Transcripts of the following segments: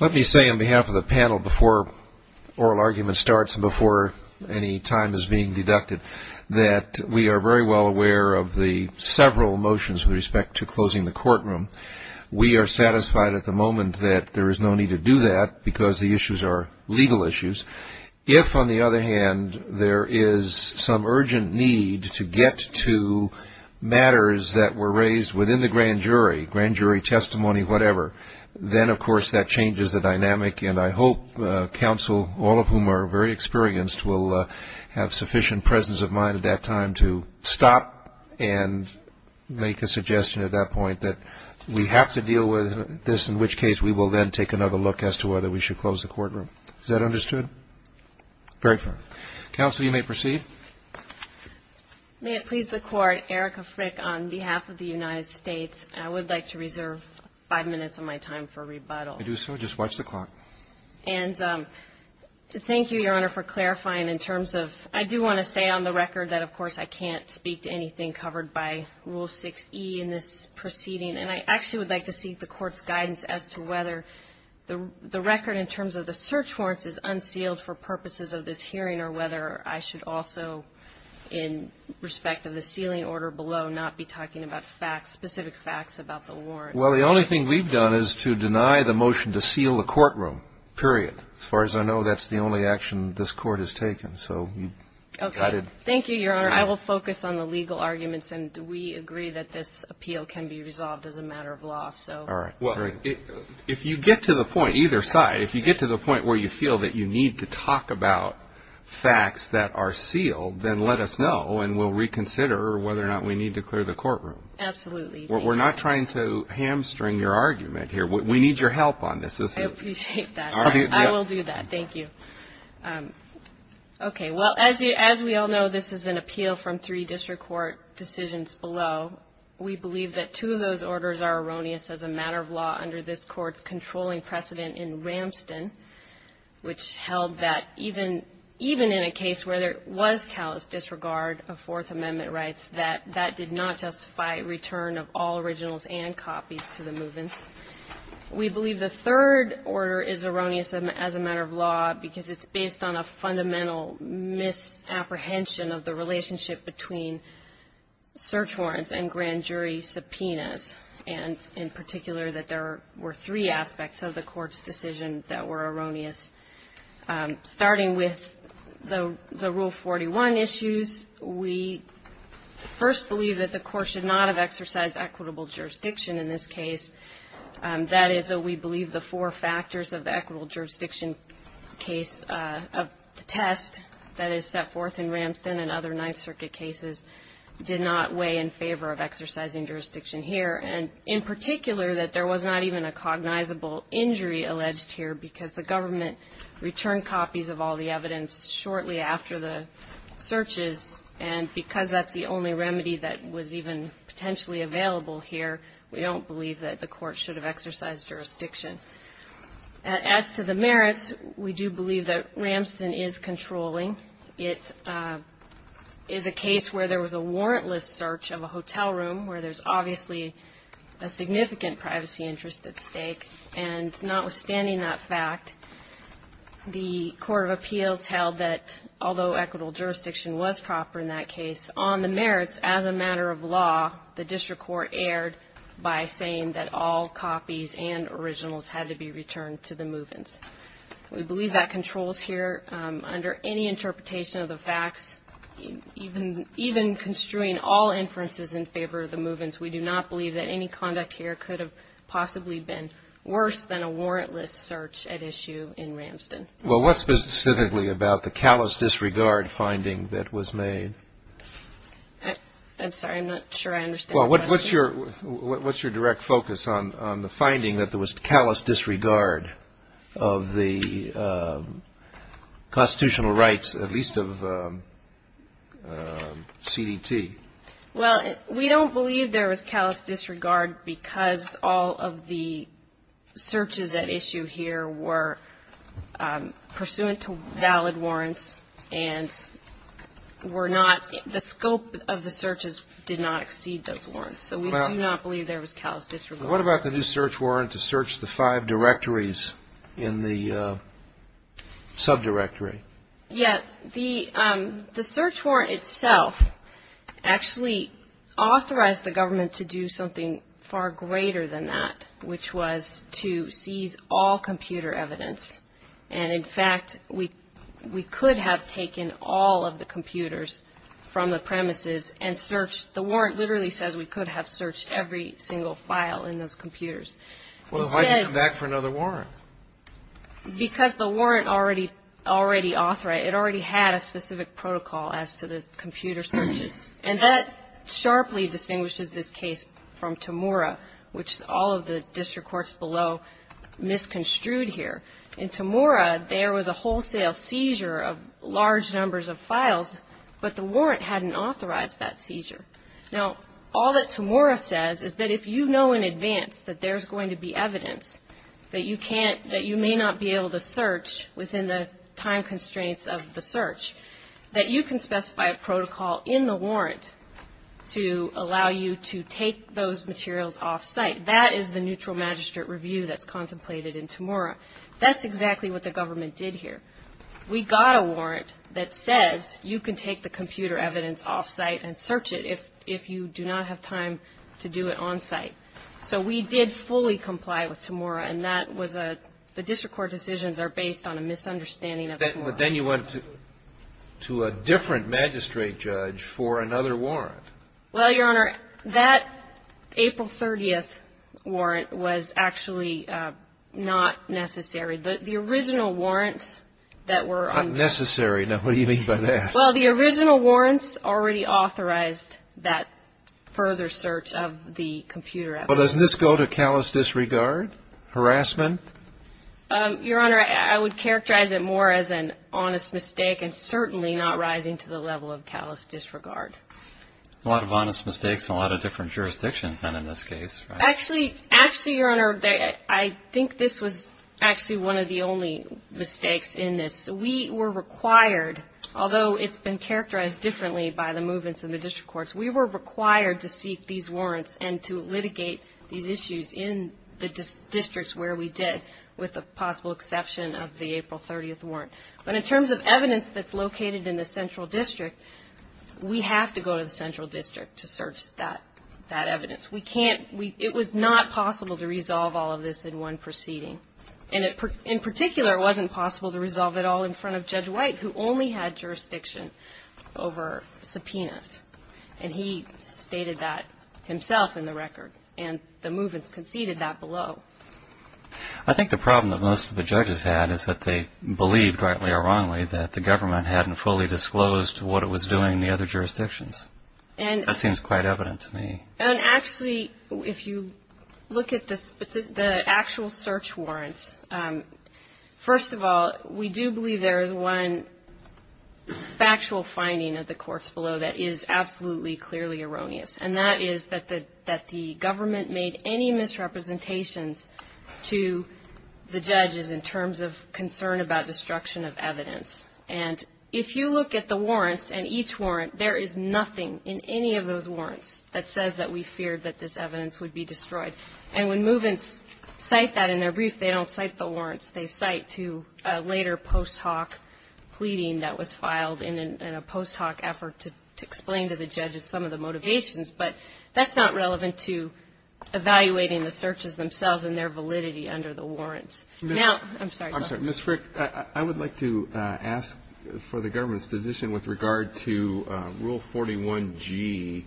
Let me say on behalf of the panel before oral argument starts and before any time is being deducted that we are very well aware of the several motions with respect to closing the courtroom. We are satisfied at the moment that there is no need to do that because the issues are legal issues. If, on the other hand, there is some urgent need to get to then, of course, that changes the dynamic and I hope counsel, all of whom are very experienced, will have sufficient presence of mind at that time to stop and make a suggestion at that point that we have to deal with this, in which case we will then take another look as to whether we should close the courtroom. Is that understood? Very good. Counsel, you may proceed. May it please the Court, Erika Frick on behalf of the United States, I would like to reserve 5 minutes of my time for rebuttal. I do so. Just watch the clock. And thank you, Your Honor, for clarifying in terms of — I do want to say on the record that, of course, I can't speak to anything covered by Rule 6e in this proceeding. And I actually would like to seek the Court's guidance as to whether the record in terms of the search warrants is unsealed for purposes of this hearing or whether I should also, in respect of the sealing order below, not be talking about facts, specific facts, about the warrants. Well, the only thing we've done is to deny the motion to seal the courtroom, period. As far as I know, that's the only action this Court has taken. So you've got it. Okay. Thank you, Your Honor. I will focus on the legal arguments. And we agree that this appeal can be resolved as a matter of law. So — All right. Well, if you get to the point, either side, if you get to the point where you feel that you need to talk about facts that are sealed, then let us know and we'll reconsider whether or not we need to clear the courtroom. Absolutely. We're not trying to hamstring your argument here. We need your help on this. I appreciate that. I will do that. Thank you. Okay. Well, as we all know, this is an appeal from three district court decisions below. We believe that two of those orders are erroneous as a matter of law under this Court's controlling precedent in Ramston, which held that even in a case where there was callous disregard of Fourth Amendment rights, that that did not justify return of all originals and copies to the movements. We believe the third order is erroneous as a matter of law because it's based on a fundamental misapprehension of the relationship between search warrants and grand jury subpoenas, and in particular that there were three aspects of the Court's decision that were erroneous. Starting with the Rule 41 issues, we first believe that the Court should not have exercised equitable jurisdiction in this case. That is, we believe, the four factors of the equitable jurisdiction case of the test that is set forth in Ramston and other Ninth Circuit cases did not weigh in favor of exercising jurisdiction here, and in particular that there was not even a cognizable injury alleged here because the government returned copies of all the evidence shortly after the searches, and because that's the only remedy that was even potentially available here, we don't believe that the Court should have As to the merits, we do believe that Ramston is controlling. It is a case where there was a warrantless search of a hotel room where there's obviously a significant privacy interest at stake, and notwithstanding that fact, the Court of Appeals held that although equitable jurisdiction was proper in that case, on the merits as a matter of law, the move-ins. We believe that controls here under any interpretation of the facts, even construing all inferences in favor of the move-ins. We do not believe that any conduct here could have possibly been worse than a warrantless search at issue in Ramston. Well, what specifically about the callous disregard finding that was made? I'm sorry. I'm not sure I understand. Well, what's your direct focus on the finding that there was callous disregard of the constitutional rights, at least of CDT? Well, we don't believe there was callous disregard because all of the searches at issue here were pursuant to valid warrants and were not the scope of the searches did not exceed those warrants. So we do not believe there was callous disregard. What about the new search warrant to search the five directories in the subdirectory? Yes. The search warrant itself actually authorized the government to do something far greater than that, which was to seize all computer evidence. And in fact, we could have taken all of the computers from the premises and searched. The warrant literally says we could have searched every single file in those computers. Well, then why did you come back for another warrant? Because the warrant already authorized. It already had a specific protocol as to the computer searches. And that sharply distinguishes this case from Tamura, which all of the district courts below misconstrued here. In Tamura, there was a wholesale seizure of large numbers of files, but the warrant hadn't authorized that seizure. Now, all that Tamura says is that if you know in advance that there's going to be evidence that you may not be able to search within the time constraints of the search, that you can specify a protocol in the warrant to allow you to take those materials off site. That is the neutral magistrate review that's contemplated in Tamura. That's exactly what the government did here. We got a warrant that says you can take the computer evidence off site and search it if you do not have time to do it on site. So we did fully comply with Tamura, and that was a, the district court decisions are based on a misunderstanding of the warrant. But then you went to a different magistrate judge for another warrant. Well, Your Honor, that April 30th was actually not necessary. The original warrants that were... Unnecessary. Now, what do you mean by that? Well, the original warrants already authorized that further search of the computer evidence. Well, doesn't this go to callous disregard, harassment? Your Honor, I would characterize it more as an honest mistake and certainly not rising to the level of callous disregard. A lot of honest mistakes in a lot of jurisdictions in this case. Actually, Your Honor, I think this was actually one of the only mistakes in this. We were required, although it's been characterized differently by the movements in the district courts, we were required to seek these warrants and to litigate these issues in the districts where we did, with the possible exception of the April 30th warrant. But in terms of evidence that's located in the central district, we have to go to the central district to search that evidence. We can't, it was not possible to resolve all of this in one proceeding. And in particular, it wasn't possible to resolve it all in front of Judge White, who only had jurisdiction over subpoenas. And he stated that himself in the record. And the movements conceded that below. I think the problem that most of the judges had is that they believed, rightly or wrongly, that the government hadn't fully disclosed what it was doing in the other jurisdictions. That seems quite evident to me. And actually, if you look at the actual search warrants, first of all, we do believe there is one factual finding of the courts below that is absolutely, clearly erroneous. And that is that the government made any misrepresentations to the judges in terms of concern about destruction of If you look at the warrants and each warrant, there is nothing in any of those warrants that says that we feared that this evidence would be destroyed. And when movements cite that in their brief, they don't cite the warrants. They cite to a later post hoc pleading that was filed in a post hoc effort to explain to the judges some of the motivations. But that's not relevant to evaluating the searches themselves and their validity under the warrants. Now, I'm sorry. I'm sorry. Ms. Frick, I would like to ask for the government's position with regard to Rule 41G.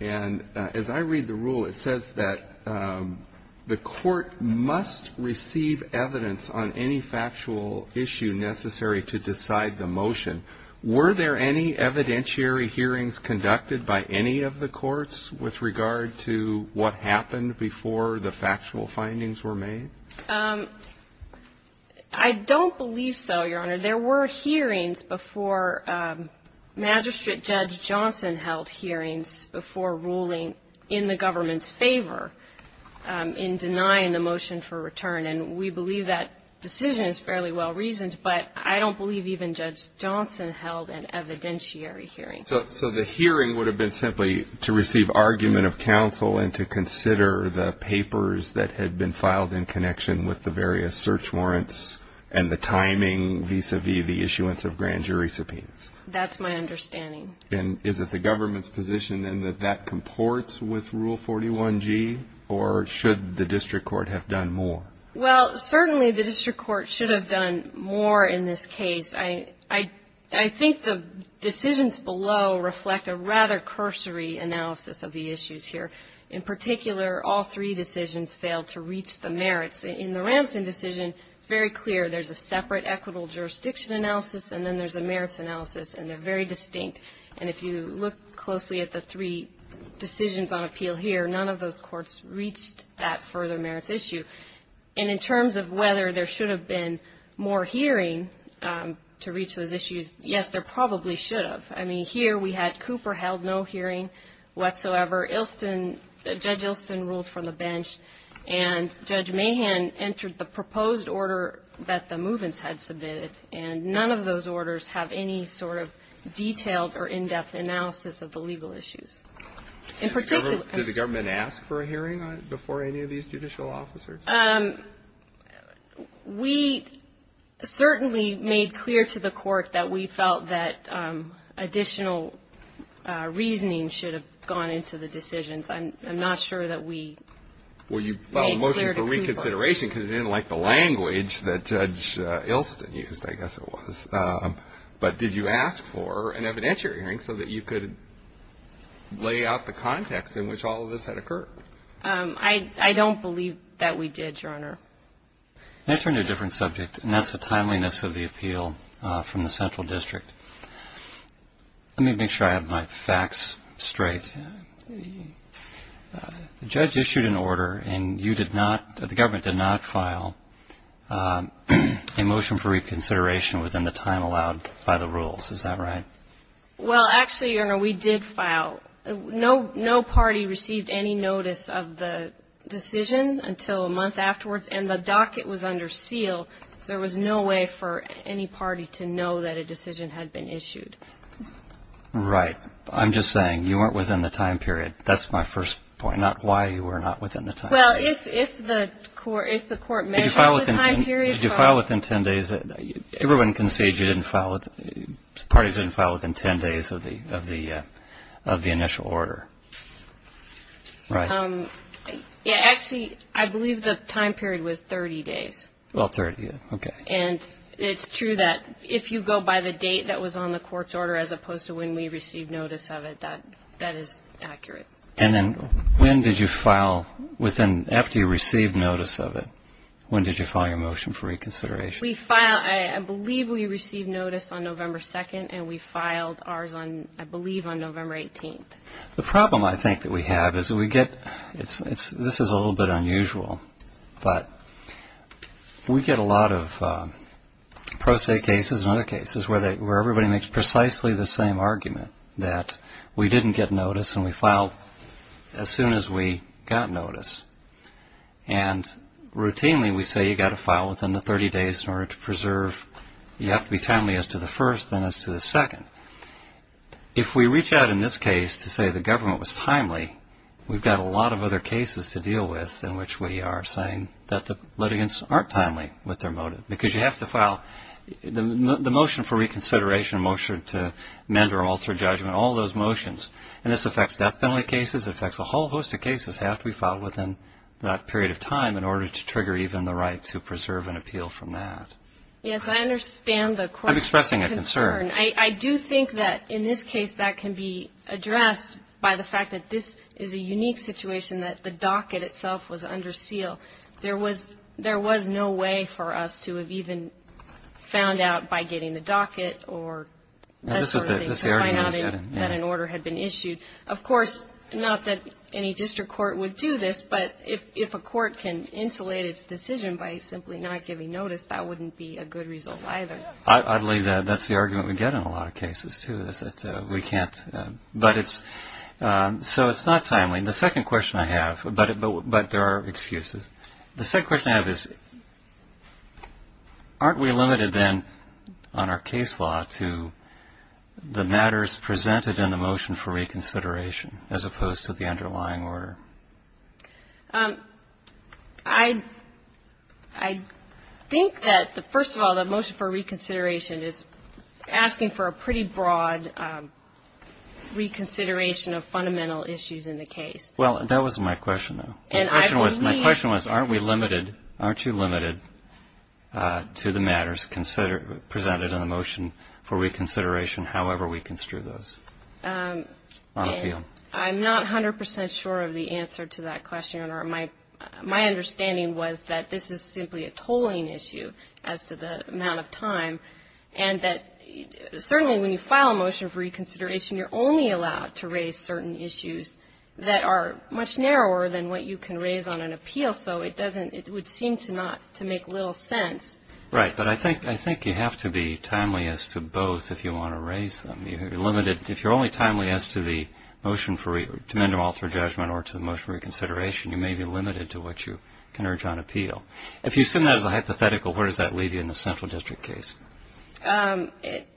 And as I read the rule, it says that the court must receive evidence on any factual issue necessary to decide the motion. Were there any evidentiary hearings conducted by any of the courts with regard to what happened before the factual findings were made? I don't believe so, Your Honor. There were hearings before Magistrate Judge Johnson held hearings before ruling in the government's favor in denying the motion for return. And we believe that decision is fairly well reasoned, but I don't believe even Judge Johnson held an evidentiary hearing. So the hearing would have been simply to receive argument of counsel and to consider the papers that had been filed in connection with the various search warrants and the timing vis-a-vis the issuance of grand jury subpoenas. That's my understanding. And is it the government's position then that that comports with Rule 41G or should the district court have done more? Well, certainly the district court should have done more in this case. I think the decisions below reflect a rather cursory analysis of the issues here. In particular, all three decisions failed to reach the merits. In the Ramston decision, it's very clear there's a separate equitable jurisdiction analysis and then there's a merits analysis, and they're very distinct. And if you look closely at the three decisions on appeal here, none of those courts reached that further merits issue. And in terms of whether there should have been more hearing to reach those issues, yes, there probably should have. I mean, here we had Cooper held no hearing whatsoever. Ilston, Judge Ilston ruled from the bench. And Judge Mahan entered the proposed order that the Movens had submitted. And none of those orders have any sort of detailed or in-depth analysis of the legal issues. In particular... Did the government ask for a hearing before any of these judicial officers? We certainly made clear to the court that we felt that I'm not sure that we made clear to Cooper. Well, you filed a motion for reconsideration because you didn't like the language that Judge Ilston used, I guess it was. But did you ask for an evidentiary hearing so that you could lay out the context in which all of this had occurred? I don't believe that we did, Your Honor. May I turn to a different subject? And that's the timeliness of the appeal from the Central District. Let me make sure I have my facts straight. The judge issued an order and you did not, the government did not file a motion for reconsideration within the time allowed by the rules. Is that right? Well, actually, Your Honor, we did file. No party received any notice of the decision until a month afterwards. And the docket was under seal. There was no way for any party to know that a decision had been issued. Right. I'm just saying you weren't within the time period. That's my first point, not why you were not within the time period. Well, if the court measures the time period. Did you file within 10 days? Everyone concedes you didn't file, parties didn't file within 10 days of the initial order. Right. Actually, I believe the time period was 30 days. Well, 30, okay. And it's true that if you go by the date that was on the court's order, as opposed to when we received notice of it, that is accurate. And then when did you file within, after you received notice of it, when did you file your motion for reconsideration? We filed, I believe we received notice on November 2nd, and we filed ours on, I believe, on November 18th. The problem I think that we have is we get, this is a little bit unusual, but we get a lot of pro se cases and other cases where everybody makes precisely the same argument that we didn't get notice and we filed as soon as we got notice. And routinely, we say you got to file within the 30 days in order to preserve, you have to be timely as to the first and as to the second. If we reach out in this case to say the government was timely, we've got a lot of other cases to deal with in which we are saying that the litigants aren't timely with their motive. Because you have to file, the motion for reconsideration, to amend or alter judgment, all those motions. And this affects death penalty cases. It affects a whole host of cases that have to be filed within that period of time in order to trigger even the right to preserve an appeal from that. Yes, I understand the question. I'm expressing a concern. I do think that in this case, that can be addressed by the fact that this is a unique situation that the docket itself was under seal. There was no way for us to have even found out by getting the docket or that sort of thing to find out that an order had been issued. Of course, not that any district court would do this, but if a court can insulate its decision by simply not giving notice, that wouldn't be a good result either. I believe that's the argument we get in a lot of cases too, is that we can't, but it's, so it's not timely. The second question I have, but there are excuses. The second question I have is, aren't we limited then on our case law to the matters presented in the motion for reconsideration as opposed to the underlying order? I think that the, first of all, the motion for reconsideration is asking for a pretty broad reconsideration of fundamental issues in the case. Well, that wasn't my question though. My question was, aren't we limited, aren't you limited to the matters presented in the motion for reconsideration, however we construe those? I'm not 100% sure of the answer to that question, or my understanding was that this is simply a tolling issue as to the amount of time, and that certainly when you file a motion for reconsideration, you're only allowed to raise certain issues that are much narrower than what you can raise on an appeal, so it doesn't, it would seem to not, to make little sense. Right, but I think you have to be timely as to both if you want to raise them. You're limited, if you're only timely as to the motion for, to amend or alter a judgment or to the motion for reconsideration, you may be limited to what you can urge on appeal. If you assume that as a hypothetical, where does that leave you in the central district case? Um,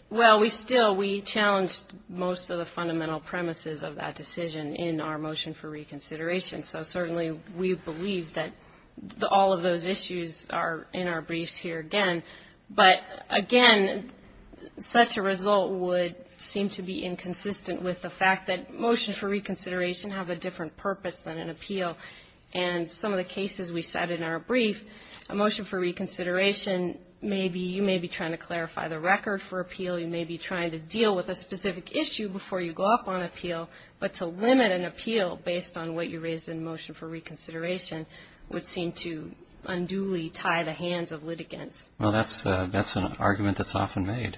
well, we still, we challenged most of the fundamental premises of that decision in our motion for reconsideration, so certainly we believe that all of those issues are in our briefs here again, but again, such a result would seem to be inconsistent with the fact that motions for reconsideration have a different purpose than an appeal, and some of the cases we set in our brief, a motion for reconsideration may be, you may be trying to clarify the record for appeal, you may be trying to deal with a specific issue before you go up on appeal, but to limit an appeal based on what you raised in motion for reconsideration would seem to unduly tie the hands of litigants. Well, that's an argument that's often made.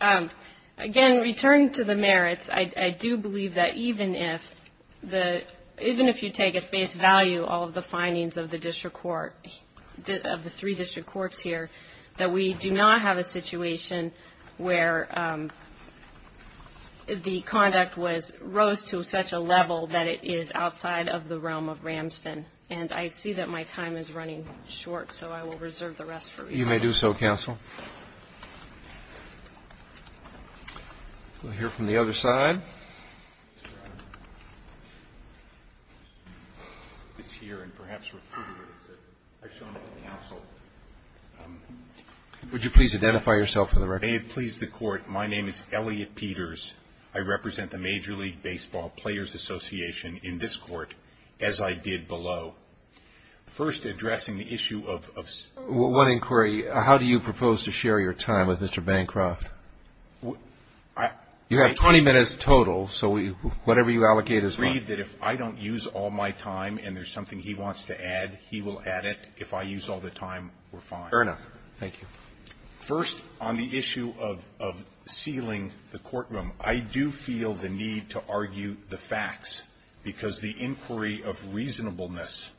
Um, again, returning to the merits, I do believe that even if the, even if you take at face value all of the findings of the district court, of the three district courts here, that we do not have a situation where, um, the conduct was, rose to such a level that it is outside of the realm of Ramston, and I see that my time is running short, so I will reserve the rest for you. You may do so, counsel. We'll hear from the other side. Sir, I don't know if he's here and perhaps refuted it, but I've shown up at the council. Would you please identify yourself for the record? May it please the court, my name is Elliot Peters. I represent the Major League Baseball Players Association in this court, as I did below. First, addressing the issue of... One inquiry, how do you propose to share your time with Mr. Bancroft? Well, I... You have 20 minutes total, so whatever you allocate is fine. I agree that if I don't use all my time and there's something he wants to add, he will add it. If I use all the time, we're fine. Fair enough. Thank you. First, on the issue of sealing the courtroom, I do feel the need to argue the facts, because the inquiry of reasonableness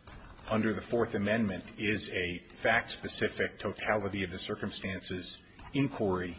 under the Fourth Amendment is a fact-specific, totality-of-the-circumstances inquiry,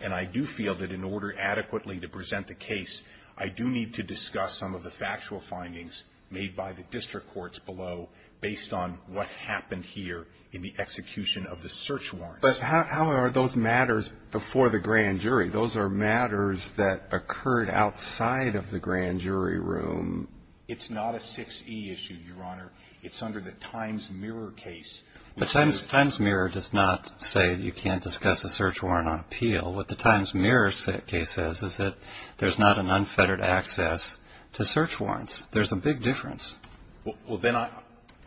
and I do feel that in order adequately to present the case, I do need to discuss some of the factual findings made by the district courts below, based on what happened here in the execution of the search warrants. But how are those matters before the grand jury? Those are matters that occurred outside of the grand jury room. It's not a 6E issue, Your Honor. It's under the Times-Mirror case. The Times-Mirror does not say that you can't discuss a search warrant on appeal. What the Times-Mirror case says is that there's not an unfettered access to search warrants. There's a big difference. Well, then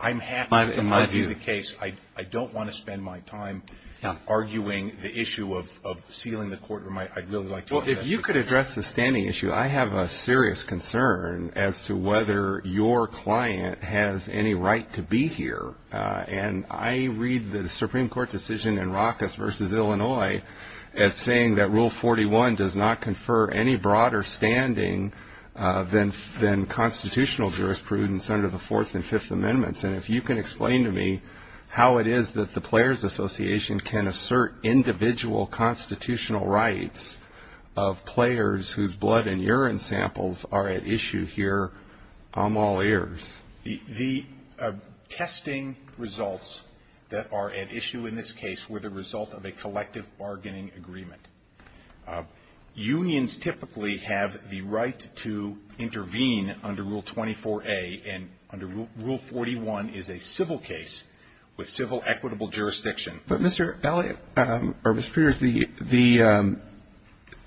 I'm happy to argue the case. I don't want to spend my time arguing the issue of sealing the courtroom. I'd really like to address it. If you could address the standing issue, I have a serious concern as to whether your client has any right to be here. And I read the Supreme Court decision in Rockus v. Illinois as saying that Rule 41 does not confer any broader standing than constitutional jurisprudence under the Fourth and Fifth Amendments. And if you can explain to me how it is that the Players Association can assert individual constitutional rights of players whose blood and urine samples are at issue here, I'm all ears. The testing results that are at issue in this case were the result of a collective bargaining agreement. Unions typically have the right to intervene under Rule 24a, and under Rule 41 is a civil case with civil equitable jurisdiction. But, Mr. Elliott, or Mr. Peters,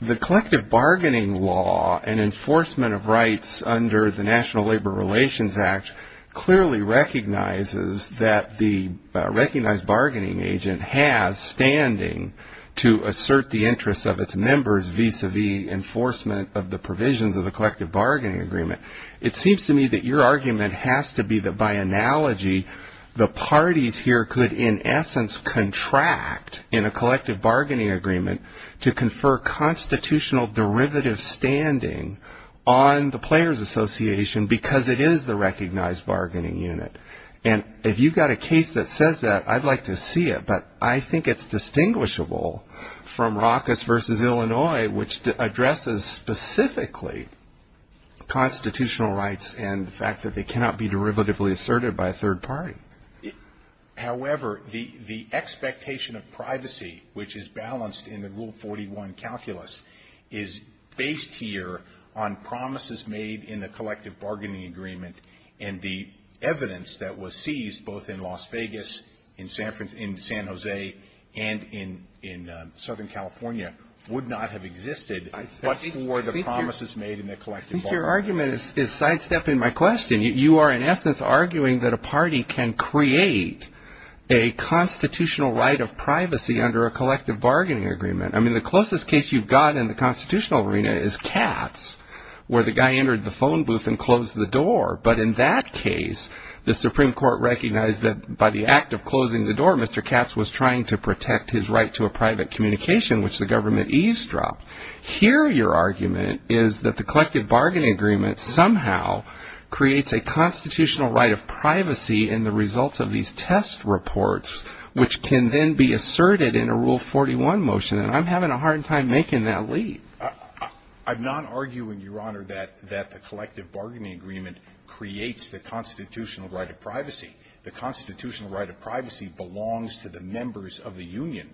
the collective bargaining law and enforcement of rights under the National Labor Relations Act clearly recognizes that the recognized bargaining agent has standing to assert the interests of its members vis-a-vis enforcement of the provisions of the collective bargaining agreement. It seems to me that your argument has to be that, by analogy, the parties here could, in essence, contract in a collective bargaining agreement to confer constitutional derivative standing on the Players Association because it is the recognized bargaining unit. And if you've got a case that says that, I'd like to see it. But I think it's distinguishable from Rockus v. Illinois, which addresses specifically constitutional rights and the fact that they cannot be derivatively asserted by a third party. However, the expectation of privacy, which is balanced in the Rule 41 calculus, is based here on promises made in the collective bargaining agreement. And the evidence that was seized, both in Las Vegas, in San Jose, and in Southern California, would not have existed but for the promises made in the collective bargaining agreement. I think your argument is sidestepping my question. You are, in essence, arguing that a party can create a constitutional right of privacy under a collective bargaining agreement. The closest case you've got in the constitutional arena is Katz, where the guy entered the phone booth and closed the door. But in that case, the Supreme Court recognized that by the act of closing the door, Mr. Katz was trying to protect his right to a private communication, which the government eavesdropped. Here, your argument is that the collective bargaining agreement somehow creates a constitutional right of privacy in the results of these test reports, which can then be asserted in a Rule 41 motion. And I'm having a hard time making that lead. I'm not arguing, Your Honor, that the collective bargaining agreement creates the constitutional right of privacy. The constitutional right of privacy belongs to the members of the union.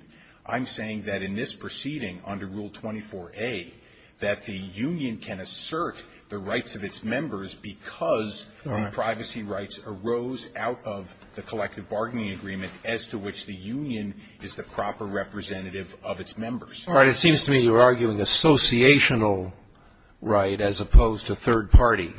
I'm saying that in this proceeding under Rule 24a, that the union can assert the rights of its members because privacy rights arose out of the collective bargaining agreement as to which the union is the proper representative of its members. All right. It seems to me you're arguing associational right as opposed to third party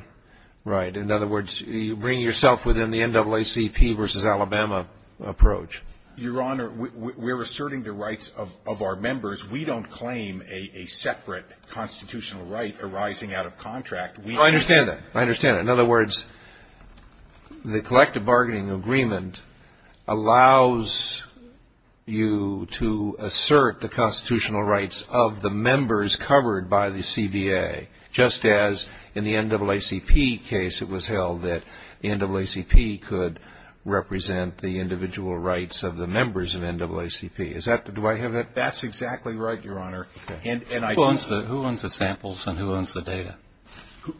right. In other words, you bring yourself within the NAACP versus Alabama approach. Your Honor, we're asserting the rights of our members. We don't claim a separate constitutional right arising out of contract. No, I understand that. I understand that. In other words, the collective bargaining agreement allows you to assert the constitutional rights of the members covered by the CBA, just as in the NAACP case it was held that NAACP could represent the individual rights of the members of NAACP. Do I have that? That's exactly right, Your Honor. Who owns the samples and who owns the data?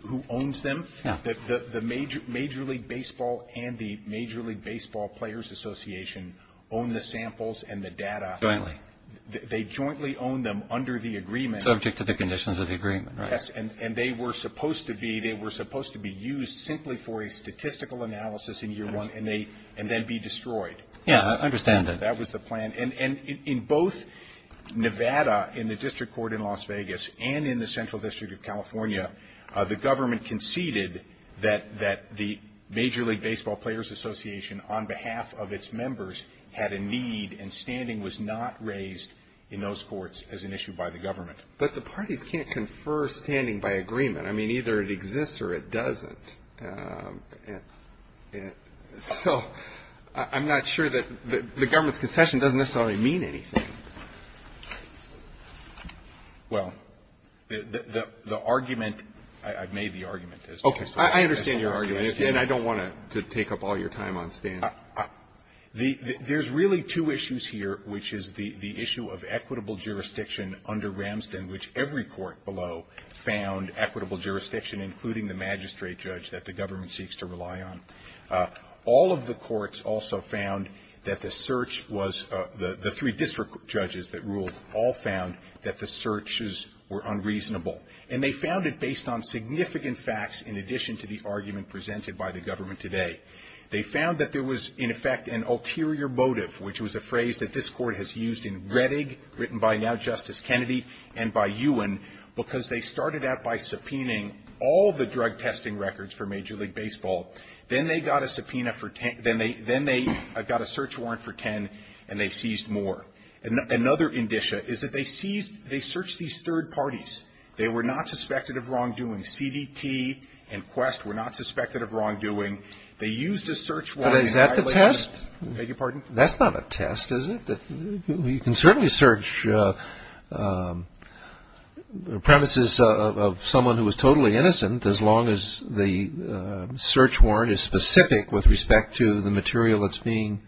Who owns them? The Major League Baseball and the Major League Baseball Players Association own the samples and the data. They jointly own them under the agreement. Subject to the conditions of the agreement, right. And they were supposed to be used simply for a statistical analysis in year one and then be destroyed. Yeah, I understand that. That was the plan. And in both Nevada in the district court in Las Vegas and in the Central District of California, the government conceded that the Major League Baseball Players Association on behalf of its members had a need and standing was not raised in those courts as an issue by the government. But the parties can't confer standing by agreement. I mean, either it exists or it doesn't. So I'm not sure that the government's concession doesn't necessarily mean anything. Well, the argument, I've made the argument as well. I understand your argument. And I don't want to take up all your time on standing. There's really two issues here, which is the issue of equitable jurisdiction under Ramsden, which every court below found equitable jurisdiction, including the magistrate judge that the government seeks to rely on. All of the courts also found that the search was, the three district judges that ruled, all found that the searches were unreasonable. And they found it based on significant facts in addition to the argument presented by the government today. They found that there was, in effect, an ulterior motive, which was a phrase that this court has used in Rettig, written by now Justice Kennedy, and by Ewan, because they started out by subpoenaing all the drug testing records for Major League Baseball. Then they got a subpoena for 10, then they got a search warrant for 10, and they seized more. Another indicia is that they seized, they searched these third parties. They were not suspected of wrongdoing. CDT and Quest were not suspected of wrongdoing. They used a search warrant. But is that the test? Beg your pardon? That's not a test, is it? But you can certainly search the premises of someone who was totally innocent as long as the search warrant is specific with respect to the material that's being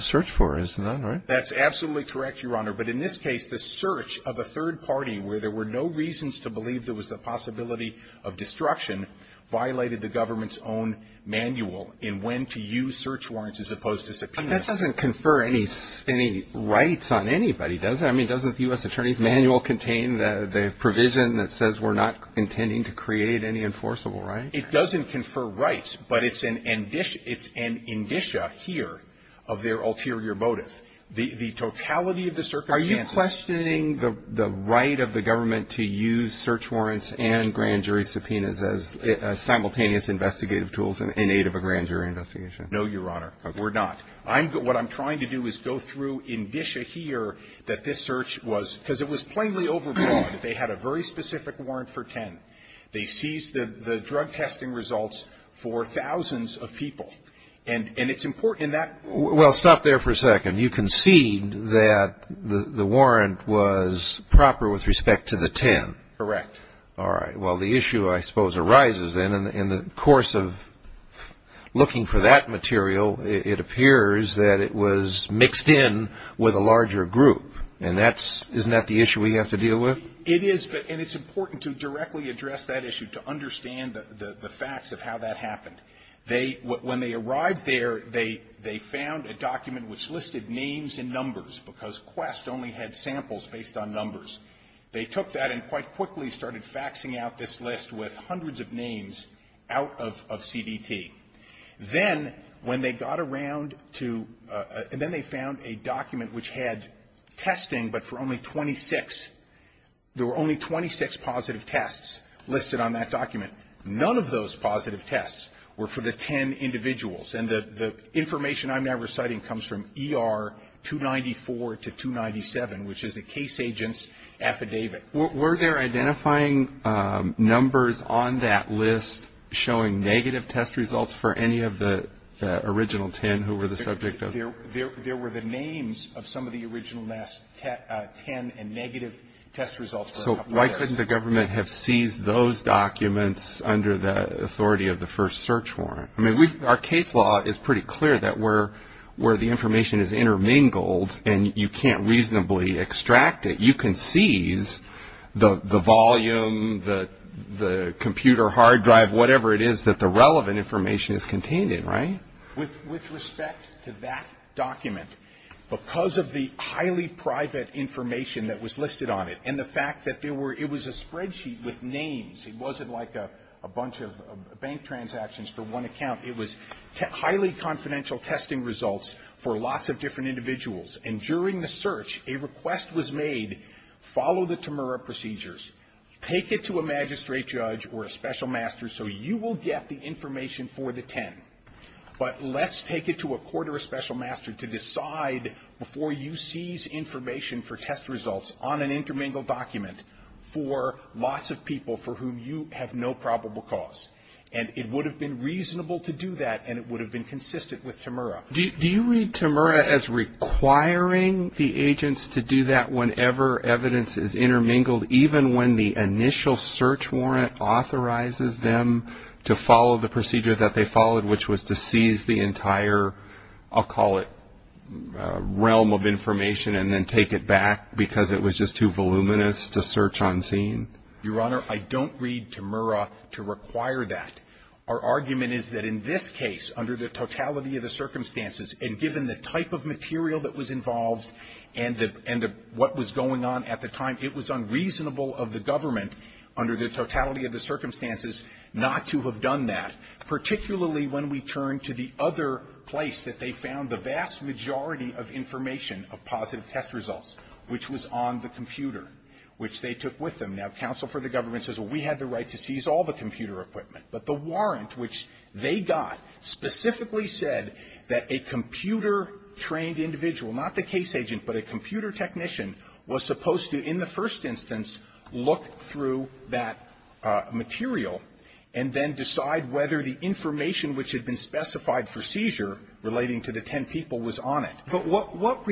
searched for, isn't that right? That's absolutely correct, Your Honor. But in this case, the search of a third party where there were no reasons to believe there was a possibility of destruction violated the government's own manual in when to use search warrants as opposed to subpoenas. That doesn't confer any rights on anybody, does it? I mean, doesn't the U.S. attorney's manual contain the provision that says we're not intending to create any enforceable right? It doesn't confer rights, but it's an indicia here of their ulterior motive. The totality of the circumstances... So is it in the aid of the government to use search warrants and grand jury subpoenas as simultaneous investigative tools in aid of a grand jury investigation? No, Your Honor, we're not. What I'm trying to do is go through indicia here that this search was, because it was plainly overblown. They had a very specific warrant for 10. They seized the drug testing results for thousands of people. And it's important in that... Well, stop there for a second. You concede that the warrant was proper with respect to the 10? Correct. All right. Well, the issue, I suppose, arises in the course of looking for that material, it appears that it was mixed in with a larger group. And that's... Isn't that the issue we have to deal with? It is. And it's important to directly address that issue, to understand the facts of how that happened. They – when they arrived there, they found a document which listed names and numbers, because Quest only had samples based on numbers. They took that and quite quickly started faxing out this list with hundreds of names out of CDT. Then, when they got around to – and then they found a document which had testing, but for only 26 – there were only 26 positive tests listed on that document. None of those positive tests were for the 10 individuals. And the information I'm now reciting comes from ER 294 to 297, which is the case agent's affidavit. Were there identifying numbers on that list showing negative test results for any of the original 10 who were the subject of... There were the names of some of the original 10 and negative test results... So why couldn't the government have seized those documents under the authority of the first search warrant? I mean, our case law is pretty clear that where the information is intermingled and you can't reasonably extract it, you can seize the volume, the computer hard drive, whatever it is that the relevant information is contained in, right? With respect to that document, because of the highly private information that was listed on it and the fact that there were – it was a spreadsheet with names. It wasn't like a bunch of bank transactions for one account. It was highly confidential testing results for lots of different individuals. And during the search, a request was made, follow the Temura procedures, take it to a magistrate judge or a special master so you will get the information for the 10. But let's take it to a court or a special master to decide before you seize information for test results on an intermingled document for lots of people for whom you have no probable cause. And it would have been reasonable to do that and it would have been consistent with Temura. Do you read Temura as requiring the agents to do that whenever evidence is intermingled, even when the initial search warrant authorizes them to follow the procedure that they followed, which was to seize the entire, I'll call it, realm of information and then take it back because it was just too voluminous to search on scene? Your Honor, I don't read Temura to require that. Our argument is that in this case, under the totality of the circumstances, and given the type of material that was involved and what was going on at the time, it was unreasonable of the government under the totality of the circumstances not to have done that, particularly when we turn to the other place that they found the vast majority of information of positive test results, which was on the computer, which they took with them. Now, counsel for the government says, well, we had the right to seize all the computer equipment, but the warrant which they got specifically said that a computer-trained individual, not the case agent, but a computer technician, was supposed to, in the which had been specified for seizure relating to the 10 people was on it. But what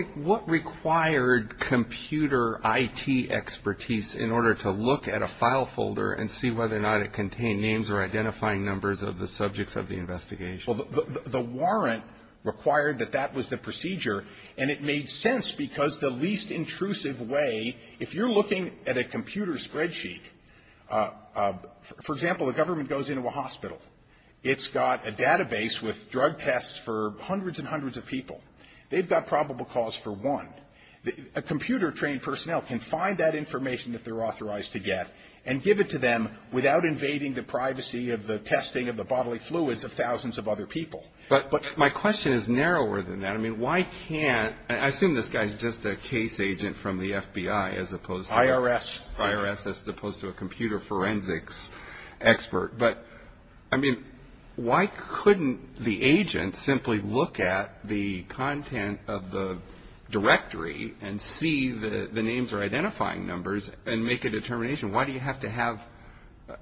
required computer IT expertise in order to look at a file folder and see whether or not it contained names or identifying numbers of the subjects of the investigation? Well, the warrant required that that was the procedure, and it made sense because the least intrusive way, if you're looking at a computer spreadsheet, for example, a government goes into a hospital. It's got a database with drug tests for hundreds and hundreds of people. They've got probable cause for one. A computer-trained personnel can find that information that they're authorized to get and give it to them without invading the privacy of the testing of the bodily fluids of thousands of other people. But my question is narrower than that. I mean, why can't – I assume this guy is just a case agent from the FBI as opposed to the IRS as opposed to a computer forensics expert. But, I mean, why couldn't the agent simply look at the content of the directory and see that the names are identifying numbers and make a determination? Why do you have to have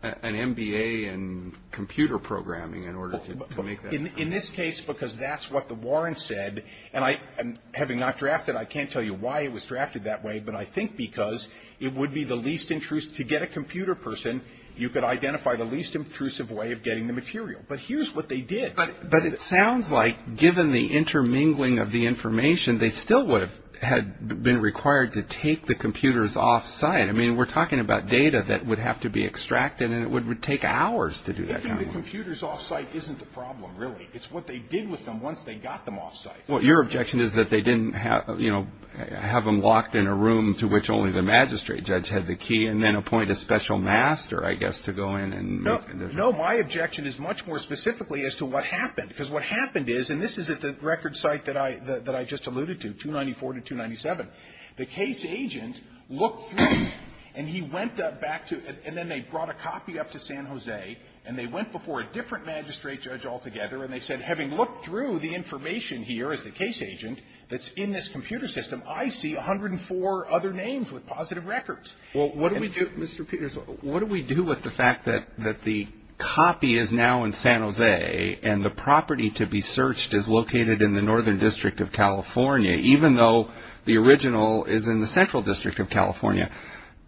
an MBA in computer programming in order to make that? Well, in this case, because that's what the warrant said, and I – having not drafted, I can't tell you why it was drafted that way, but I think because it would be the least intrusive – to get a computer person, you could identify the least intrusive way of getting the material. But here's what they did. But it sounds like, given the intermingling of the information, they still would have – had been required to take the computers off-site. I mean, we're talking about data that would have to be extracted, and it would take hours to do that kind of work. Taking the computers off-site isn't the problem, really. It's what they did with them once they got them off-site. Well, your objection is that they didn't have – you know, have them locked in a room to which only the magistrate judge had the key, and then appoint a special master, I guess, to go in and make the decision? No. No, my objection is much more specifically as to what happened. Because what happened is – and this is at the record site that I – that I just alluded to, 294 to 297. The case agent looked through, and he went back to – and then they brought a copy up to San Jose, and they went before a different magistrate judge altogether, and they said, having looked through the information here as the case agent that's in this computer system, I see 104 other names with positive records. Well, what do we do – Mr. Peters, what do we do with the fact that the copy is now in San Jose, and the property to be searched is located in the Northern District of California, even though the original is in the Central District of California?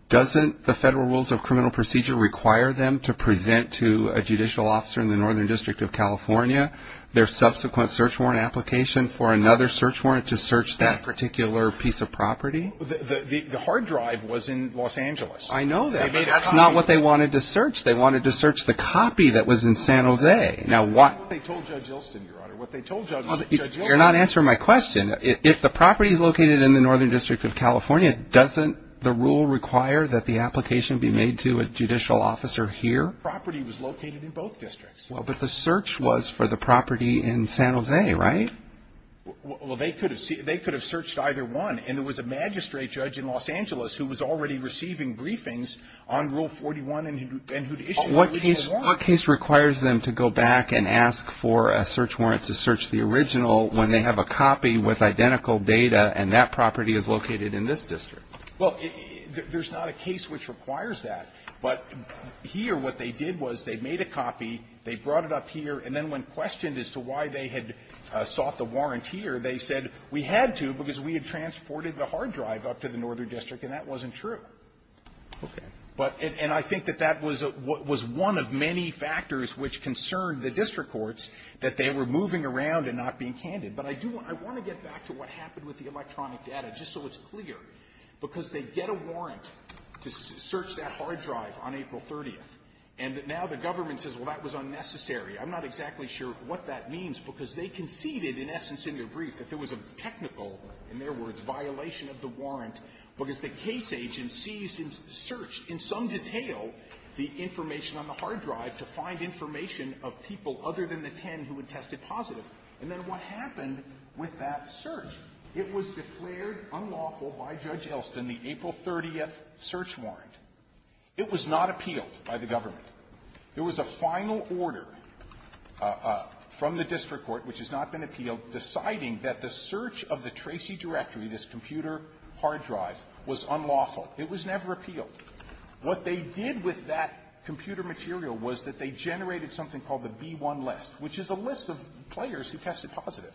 Doesn't the Federal Rules of Criminal Procedure require them to present to a judicial officer in the Northern District of California their subsequent search warrant application for another search warrant to search that particular piece of property? The hard drive was in Los Angeles. I know that, but that's not what they wanted to search. They wanted to search the copy that was in San Jose. Now, what – That's what they told Judge Ilston, Your Honor. What they told Judge Ilston – You're not answering my question. If the property is located in the Northern District of California, doesn't the rule require that the application be made to a judicial officer here? The property was located in both districts. Well, but the search was for the property in San Jose, right? Well, they could have – they could have searched either one. And there was a magistrate judge in Los Angeles who was already receiving briefings on Rule 41 and who issued the original warrant. What case – what case requires them to go back and ask for a search warrant to search the original when they have a copy with identical data and that property is located in this district? Well, there's not a case which requires that. But here, what they did was they made a copy, they brought it up here, and then when questioned as to why they had sought the warrant here, they said, we had to because we had transported the hard drive up to the Northern District, and that wasn't true. Okay. But – and I think that that was a – was one of many factors which concerned the district courts, that they were moving around and not being candid. But I do – I want to get back to what happened with the electronic data, just so it's clear, because they get a warrant to search that hard drive on April 30th, and now the government says, well, that was unnecessary. I'm not exactly sure what that means, because they conceded, in essence, in their brief, that there was a technical, in their words, violation of the warrant, because the case agent seized and searched in some detail the information on the hard drive to find information of people other than the ten who had tested positive. And then what happened with that search? It was declared unlawful by the district court. It was declared unlawful by Judge Elston, the April 30th search warrant. It was not appealed by the government. There was a final order from the district court, which has not been appealed, deciding that the search of the Tracy directory, this computer hard drive, was unlawful. It was never appealed. What they did with that computer material was that they generated something called the B-1 list, which is a list of players who tested positive,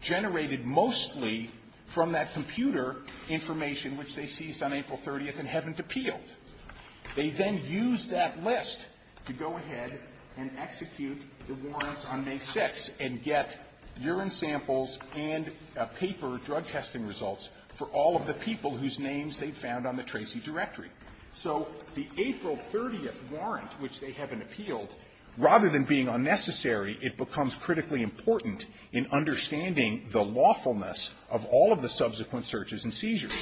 generated mostly from that computer information which they seized on April 30th and haven't appealed. They then used that list to go ahead and execute the warrants on May 6th and get urine samples and paper drug-testing results for all of the people whose names they found on the Tracy directory. So the April 30th warrant, which they haven't appealed, rather than being unnecessary, it becomes critically important in understanding the lawfulness of all of the subsequent searches and seizures.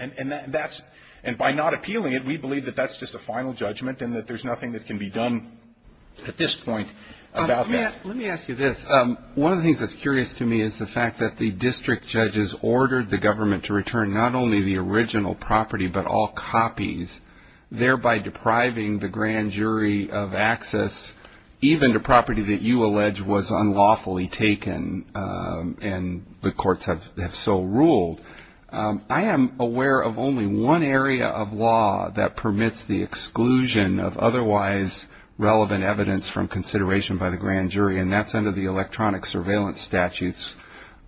And by not appealing it, we believe that that's just a final judgment and that there's nothing that can be done at this point about that. Let me ask you this. One of the things that's curious to me is the fact that the district judges ordered the government to return not only the original property but all copies, thereby depriving the grand jury of access even to property that you ruled. I am aware of only one area of law that permits the exclusion of otherwise relevant evidence from consideration by the grand jury, and that's under the electronic surveillance statutes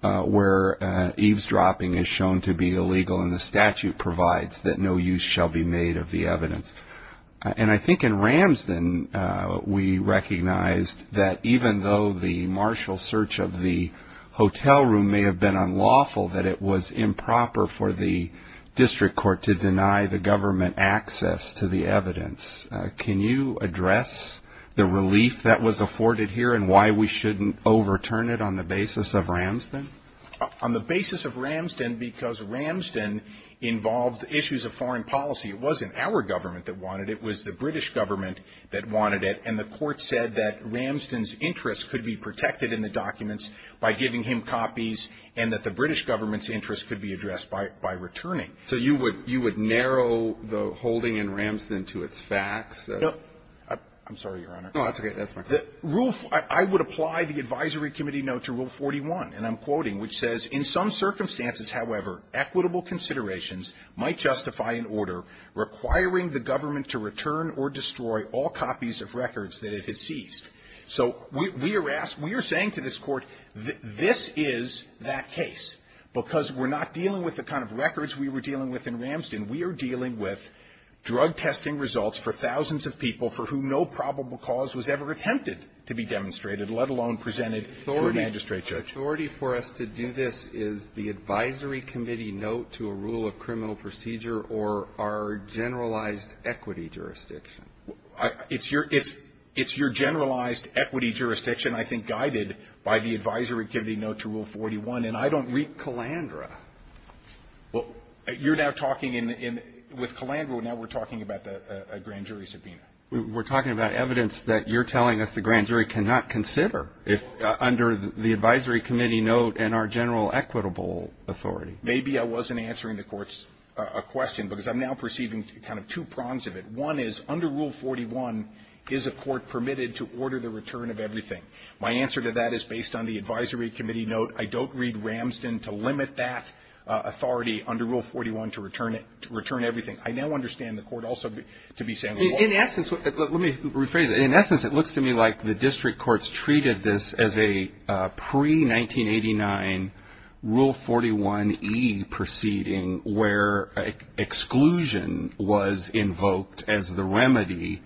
where eavesdropping is shown to be illegal, and the statute provides that no use shall be made of the evidence. And I think in Ramsden we recognized that even though the martial search of the hotel room may have been unlawful, that it was improper for the district court to deny the government access to the evidence. Can you address the relief that was afforded here and why we shouldn't overturn it on the basis of Ramsden? On the basis of Ramsden, because Ramsden involved issues of foreign policy. It wasn't our government that wanted it. It was the British government that wanted it. And the court said that Ramsden's be protected in the documents by giving him copies and that the British government's interest could be addressed by returning. So you would narrow the holding in Ramsden to its facts? No. I'm sorry, Your Honor. No, that's okay. That's my question. Rule of ---- I would apply the advisory committee note to Rule 41, and I'm quoting, which says, In some circumstances, however, equitable considerations might justify an order requiring the government to return or destroy all copies of records that it has seized. So we are asked, we are saying to this Court, this is that case, because we're not dealing with the kind of records we were dealing with in Ramsden. We are dealing with drug-testing results for thousands of people for whom no probable cause was ever attempted to be demonstrated, let alone presented to a magistrate judge. The authority for us to do this is the advisory committee note to a rule of criminal procedure or our generalized equity jurisdiction. It's your generalized equity jurisdiction, I think, guided by the advisory committee note to Rule 41, and I don't read Calandra. Well, you're now talking in the ---- with Calandra, now we're talking about a grand jury subpoena. We're talking about evidence that you're telling us the grand jury cannot consider under the advisory committee note and our general equitable authority. Maybe I wasn't answering the Court's question, because I'm now perceiving kind of two prongs of it. One is, under Rule 41, is a court permitted to order the return of everything? My answer to that is based on the advisory committee note. I don't read Ramsden to limit that authority under Rule 41 to return it, to return everything. I now understand the Court also to be saying, well ---- In essence, let me rephrase it. In essence, it looks to me like the district courts treated this as a pre-1989 Rule 41e proceeding where exclusion was invoked as the remedy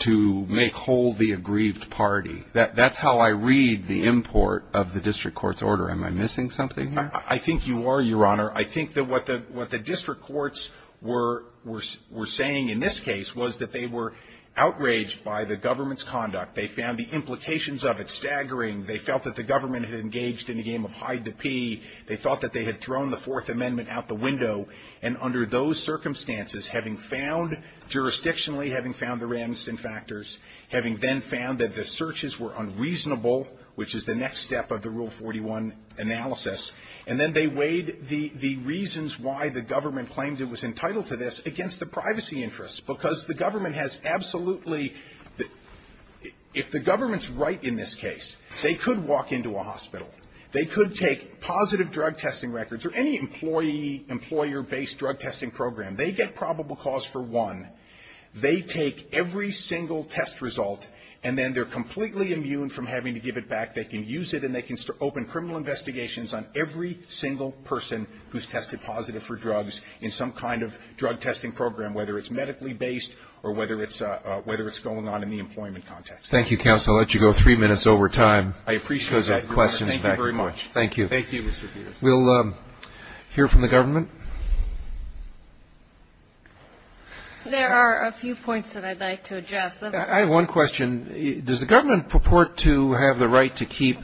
to make whole the aggrieved party. That's how I read the import of the district court's order. Am I missing something here? I think you are, Your Honor. I think that what the district courts were saying in this case was that they were outraged by the government's conduct. They found the implications of it staggering. They felt that the government had engaged in a game of hide-the-pea. They thought that they had thrown the Fourth Amendment out the window. And under those circumstances, having found jurisdictionally, having found the Ramsden factors, having then found that the searches were unreasonable, which is the next step of the Rule 41 analysis, and then they weighed the reasons why the government claimed it was entitled to this against the privacy interests. Because the government has absolutely ---- if the government's right in this case, they could walk into a hospital. They could take positive drug testing records or any employee or employer-based drug testing program. They get probable cause for one. They take every single test result, and then they're completely immune from having to give it back. They can use it, and they can open criminal investigations on every single person who's tested positive for drugs in some kind of drug testing program, whether it's medically based or whether it's going on in the employment context. Thank you, counsel. I'll let you go three minutes over time. I appreciate that. Thank you very much. Thank you. Thank you, Mr. Peters. We'll hear from the government. There are a few points that I'd like to address. I have one question. Does the government purport to have the right to keep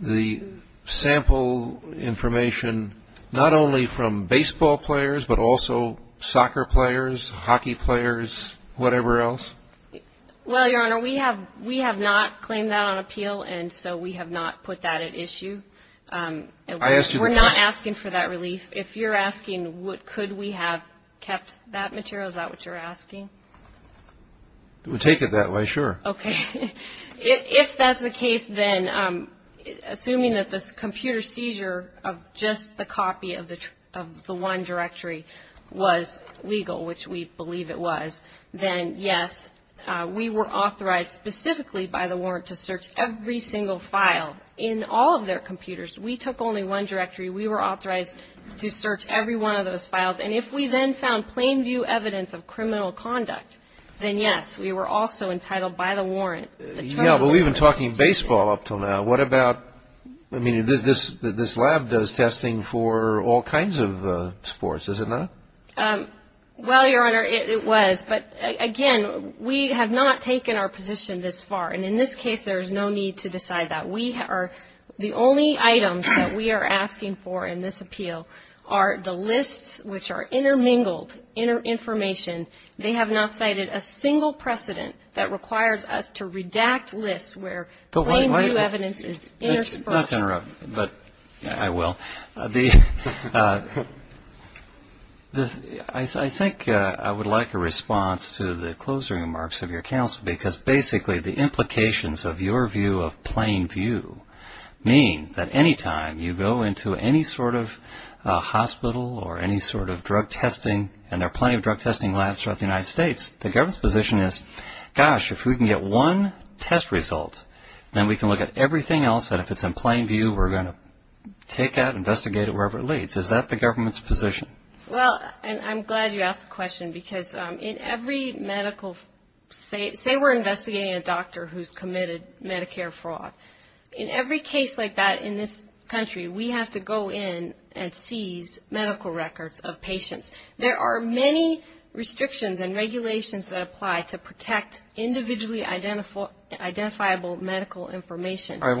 the sample information not only from baseball players, but also soccer players, hockey players, whatever else? Well, Your Honor, we have not claimed that on appeal, and so we have not put that at issue. I asked you the question. We're not asking for that relief. If you're asking could we have kept that material, is that what you're asking? We'll take it that way, sure. Okay. If that's the case, then assuming that the computer seizure of just the copy of the one directory was legal, which we believe it was, then yes, we were authorized specifically by the warrant to search every single file in all of their computers. We took only one directory. We were authorized to search every one of those files. And if we then found plain view evidence of criminal conduct, then yes, we were also entitled by the warrant. Yeah, but we've been talking baseball up until now. What about, I mean, this lab does testing for all kinds of sports, does it not? Well, Your Honor, it was. But again, we have not taken our position this far, and in this case, there is no need to decide that. The only items that we are asking for in this appeal are the lists which are intermingled in our information. They have not cited a single precedent that requires us to redact lists where plain view evidence is interspersed. Not to interrupt, but I will. I think I would like a response to the closing remarks of your counsel, because basically the implications of your view of plain view means that any time you go into any sort of hospital or any sort of drug testing, and there are plenty of drug testing labs throughout the United States, the government's position is, gosh, if we can get one test result, then we can look at everything else, and if it's in plain view, we're going to take that, investigate it wherever it leads. Is that the government's position? Well, and I'm glad you asked the question, because in every medical, say we're investigating a doctor who's committed Medicare fraud, in every case like that in this country, we have to go in and seize medical records of patients. There are many restrictions and regulations that apply to protect individually identifiable medical information. None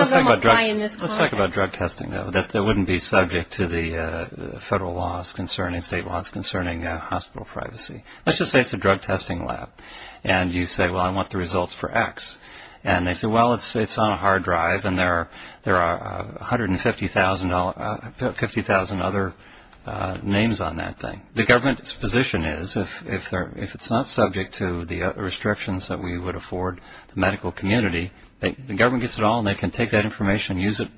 of them apply in this context. All right, let's talk about drug testing, though, that wouldn't be subject to the federal laws concerning, state laws concerning hospital privacy. Let's just say it's a drug testing lab, and you say, well, I want the results for X, and they say, well, it's on a hard drive, and there are 150,000 other names on that thing. The government's position is, if it's not subject to the restrictions that we would afford the medical community, the government gets it all, and they can take that information and use it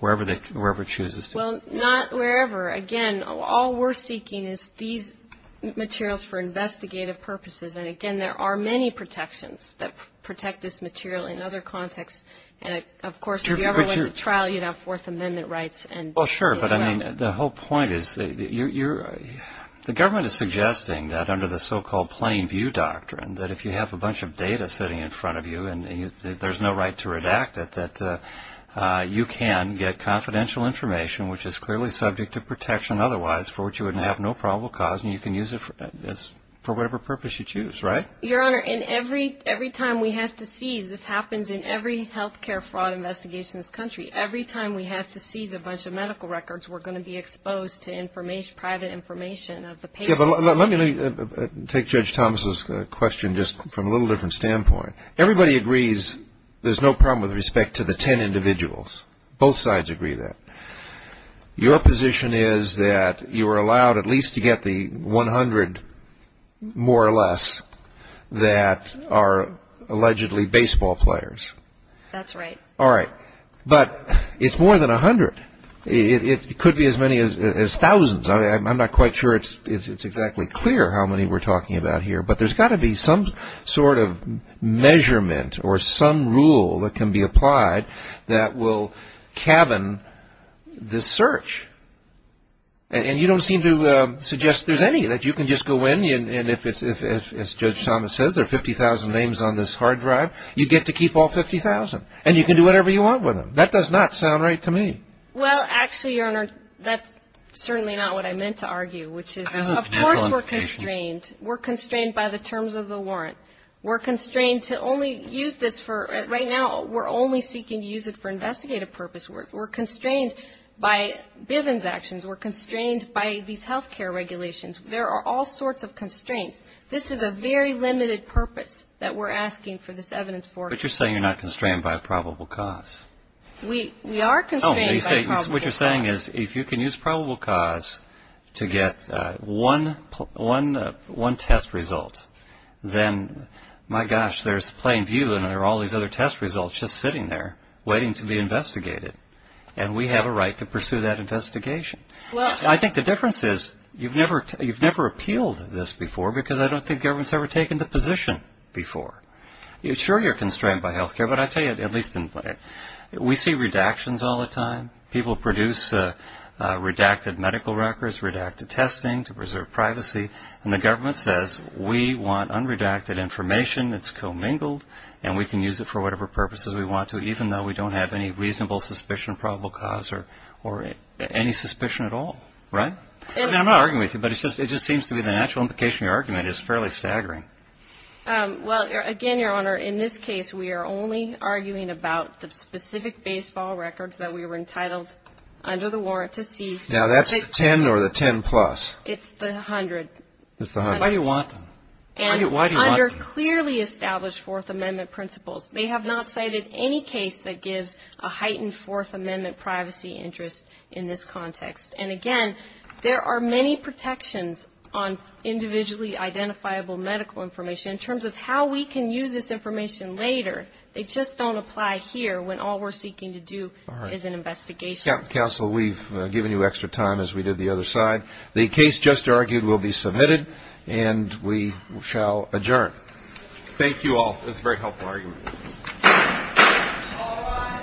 wherever it chooses to. Well, not wherever. Again, all we're seeking is these materials for investigative purposes, and again, there are many protections that protect this material in other contexts, and of course, if you ever went to trial, you'd have Fourth Amendment rights as well. Well, sure, but I mean, the whole point is, the government is suggesting that under the so-called Plain View Doctrine, that if you have a bunch of data sitting in front of you, and there's no right to redact it, that you can get confidential information, which is clearly subject to protection otherwise, for which you would have no probable cause, and you can use it for whatever purpose you choose, right? Your Honor, every time we have to seize, this happens in every health care fraud investigation in this country. Every time we have to seize a bunch of medical records, we're going to be exposed to private information of the patient. Yeah, but let me take Judge Thomas' question just from a little different standpoint. Everybody agrees there's no problem with respect to the 10 individuals. Both sides agree that. Your position is that you are allowed at least to get the 100, more or less, that are allegedly baseball players. That's right. All right, but it's more than 100. It could be as many as thousands. I'm not quite sure it's exactly clear how many we're talking about here, but there's got to be some sort of measurement or some rule that can be applied that will cabin this search. And you don't seem to suggest there's any, that you can just go in, and if it's, as Judge Thomas says, there are 50,000 names on this hard drive, you get to keep all 50,000. And you can do whatever you want with them. That does not sound right to me. Well, actually, Your Honor, that's certainly not what I meant to argue, which is, of course, we're constrained. We're constrained by the terms of the warrant. We're constrained to only use this for right now, we're only seeking to use it for investigative purpose. We're constrained by Bivens' actions. We're constrained by these health care regulations. There are all sorts of constraints. This is a very limited purpose that we're asking for this evidence for. But you're saying you're not constrained by probable cause. We are constrained by probable cause. What you're saying is, if you can use probable cause to get one test result, then, my gosh, there's Plainview and there are all these other test results just sitting there, waiting to be investigated. And we have a right to pursue that investigation. I think the difference is, you've never appealed this before, because I don't think government's ever taken the position before. Sure, you're constrained by health care, but I tell you, at least, we see redactions all the time. People produce redacted medical records, redacted testing to preserve privacy, and the government says, we want unredacted information, it's commingled, and we can use it for whatever purposes we want to, even though we don't have any reasonable suspicion of probable cause or any suspicion at all. Right? I'm not arguing with you, but it just seems to be the natural implication of your argument is fairly staggering. Well, again, Your Honor, in this case, we are only arguing about the specific baseball records that we were entitled under the warrant to seize. Now, that's the 10 or the 10 plus? It's the 100. It's the 100. Why do you want them? Why do you want them? And under clearly established Fourth Amendment principles, they have not cited any case that gives a heightened Fourth Amendment privacy interest in this context. And, again, there are many protections on individually identifiable medical information in terms of how we can use this information later. They just don't apply here when all we're seeking to do is an investigation. Counsel, we've given you extra time, as we did the other side. The case just argued will be submitted, and we shall adjourn. Thank you all. It was a very helpful argument. All rise.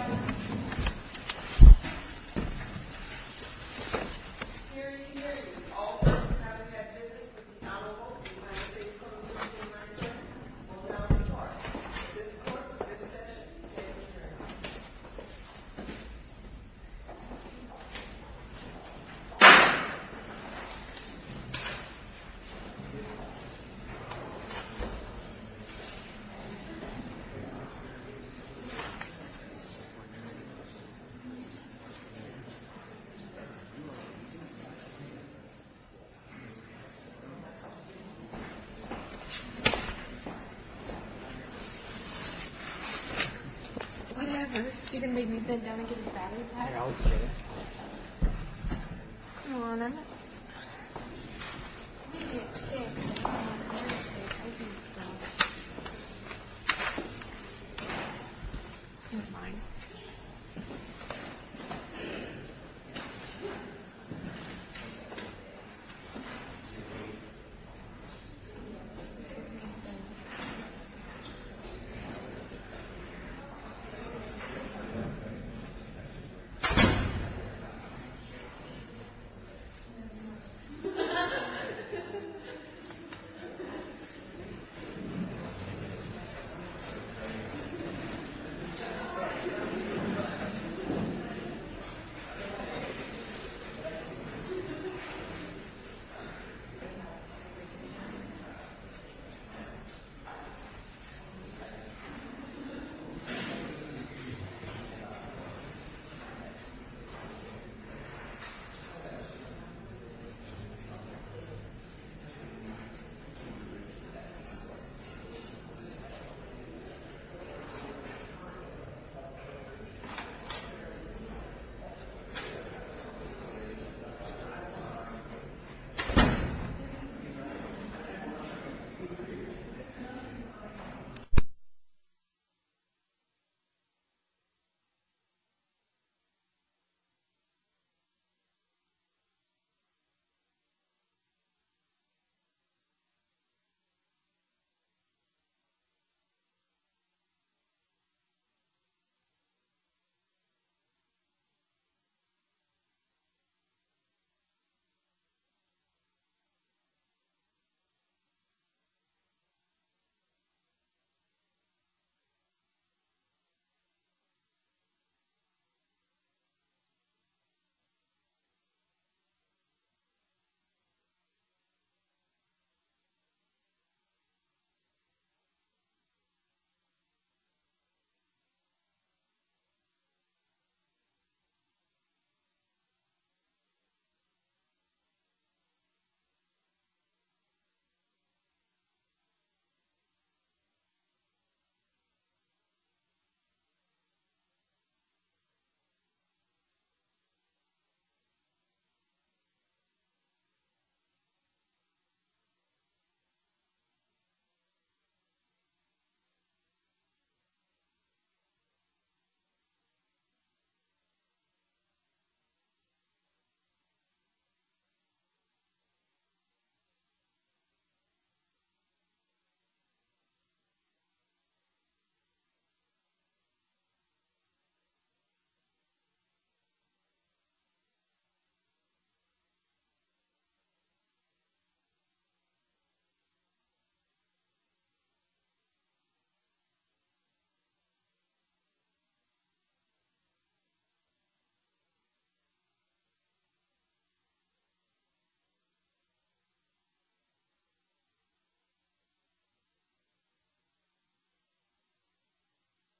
Thank you.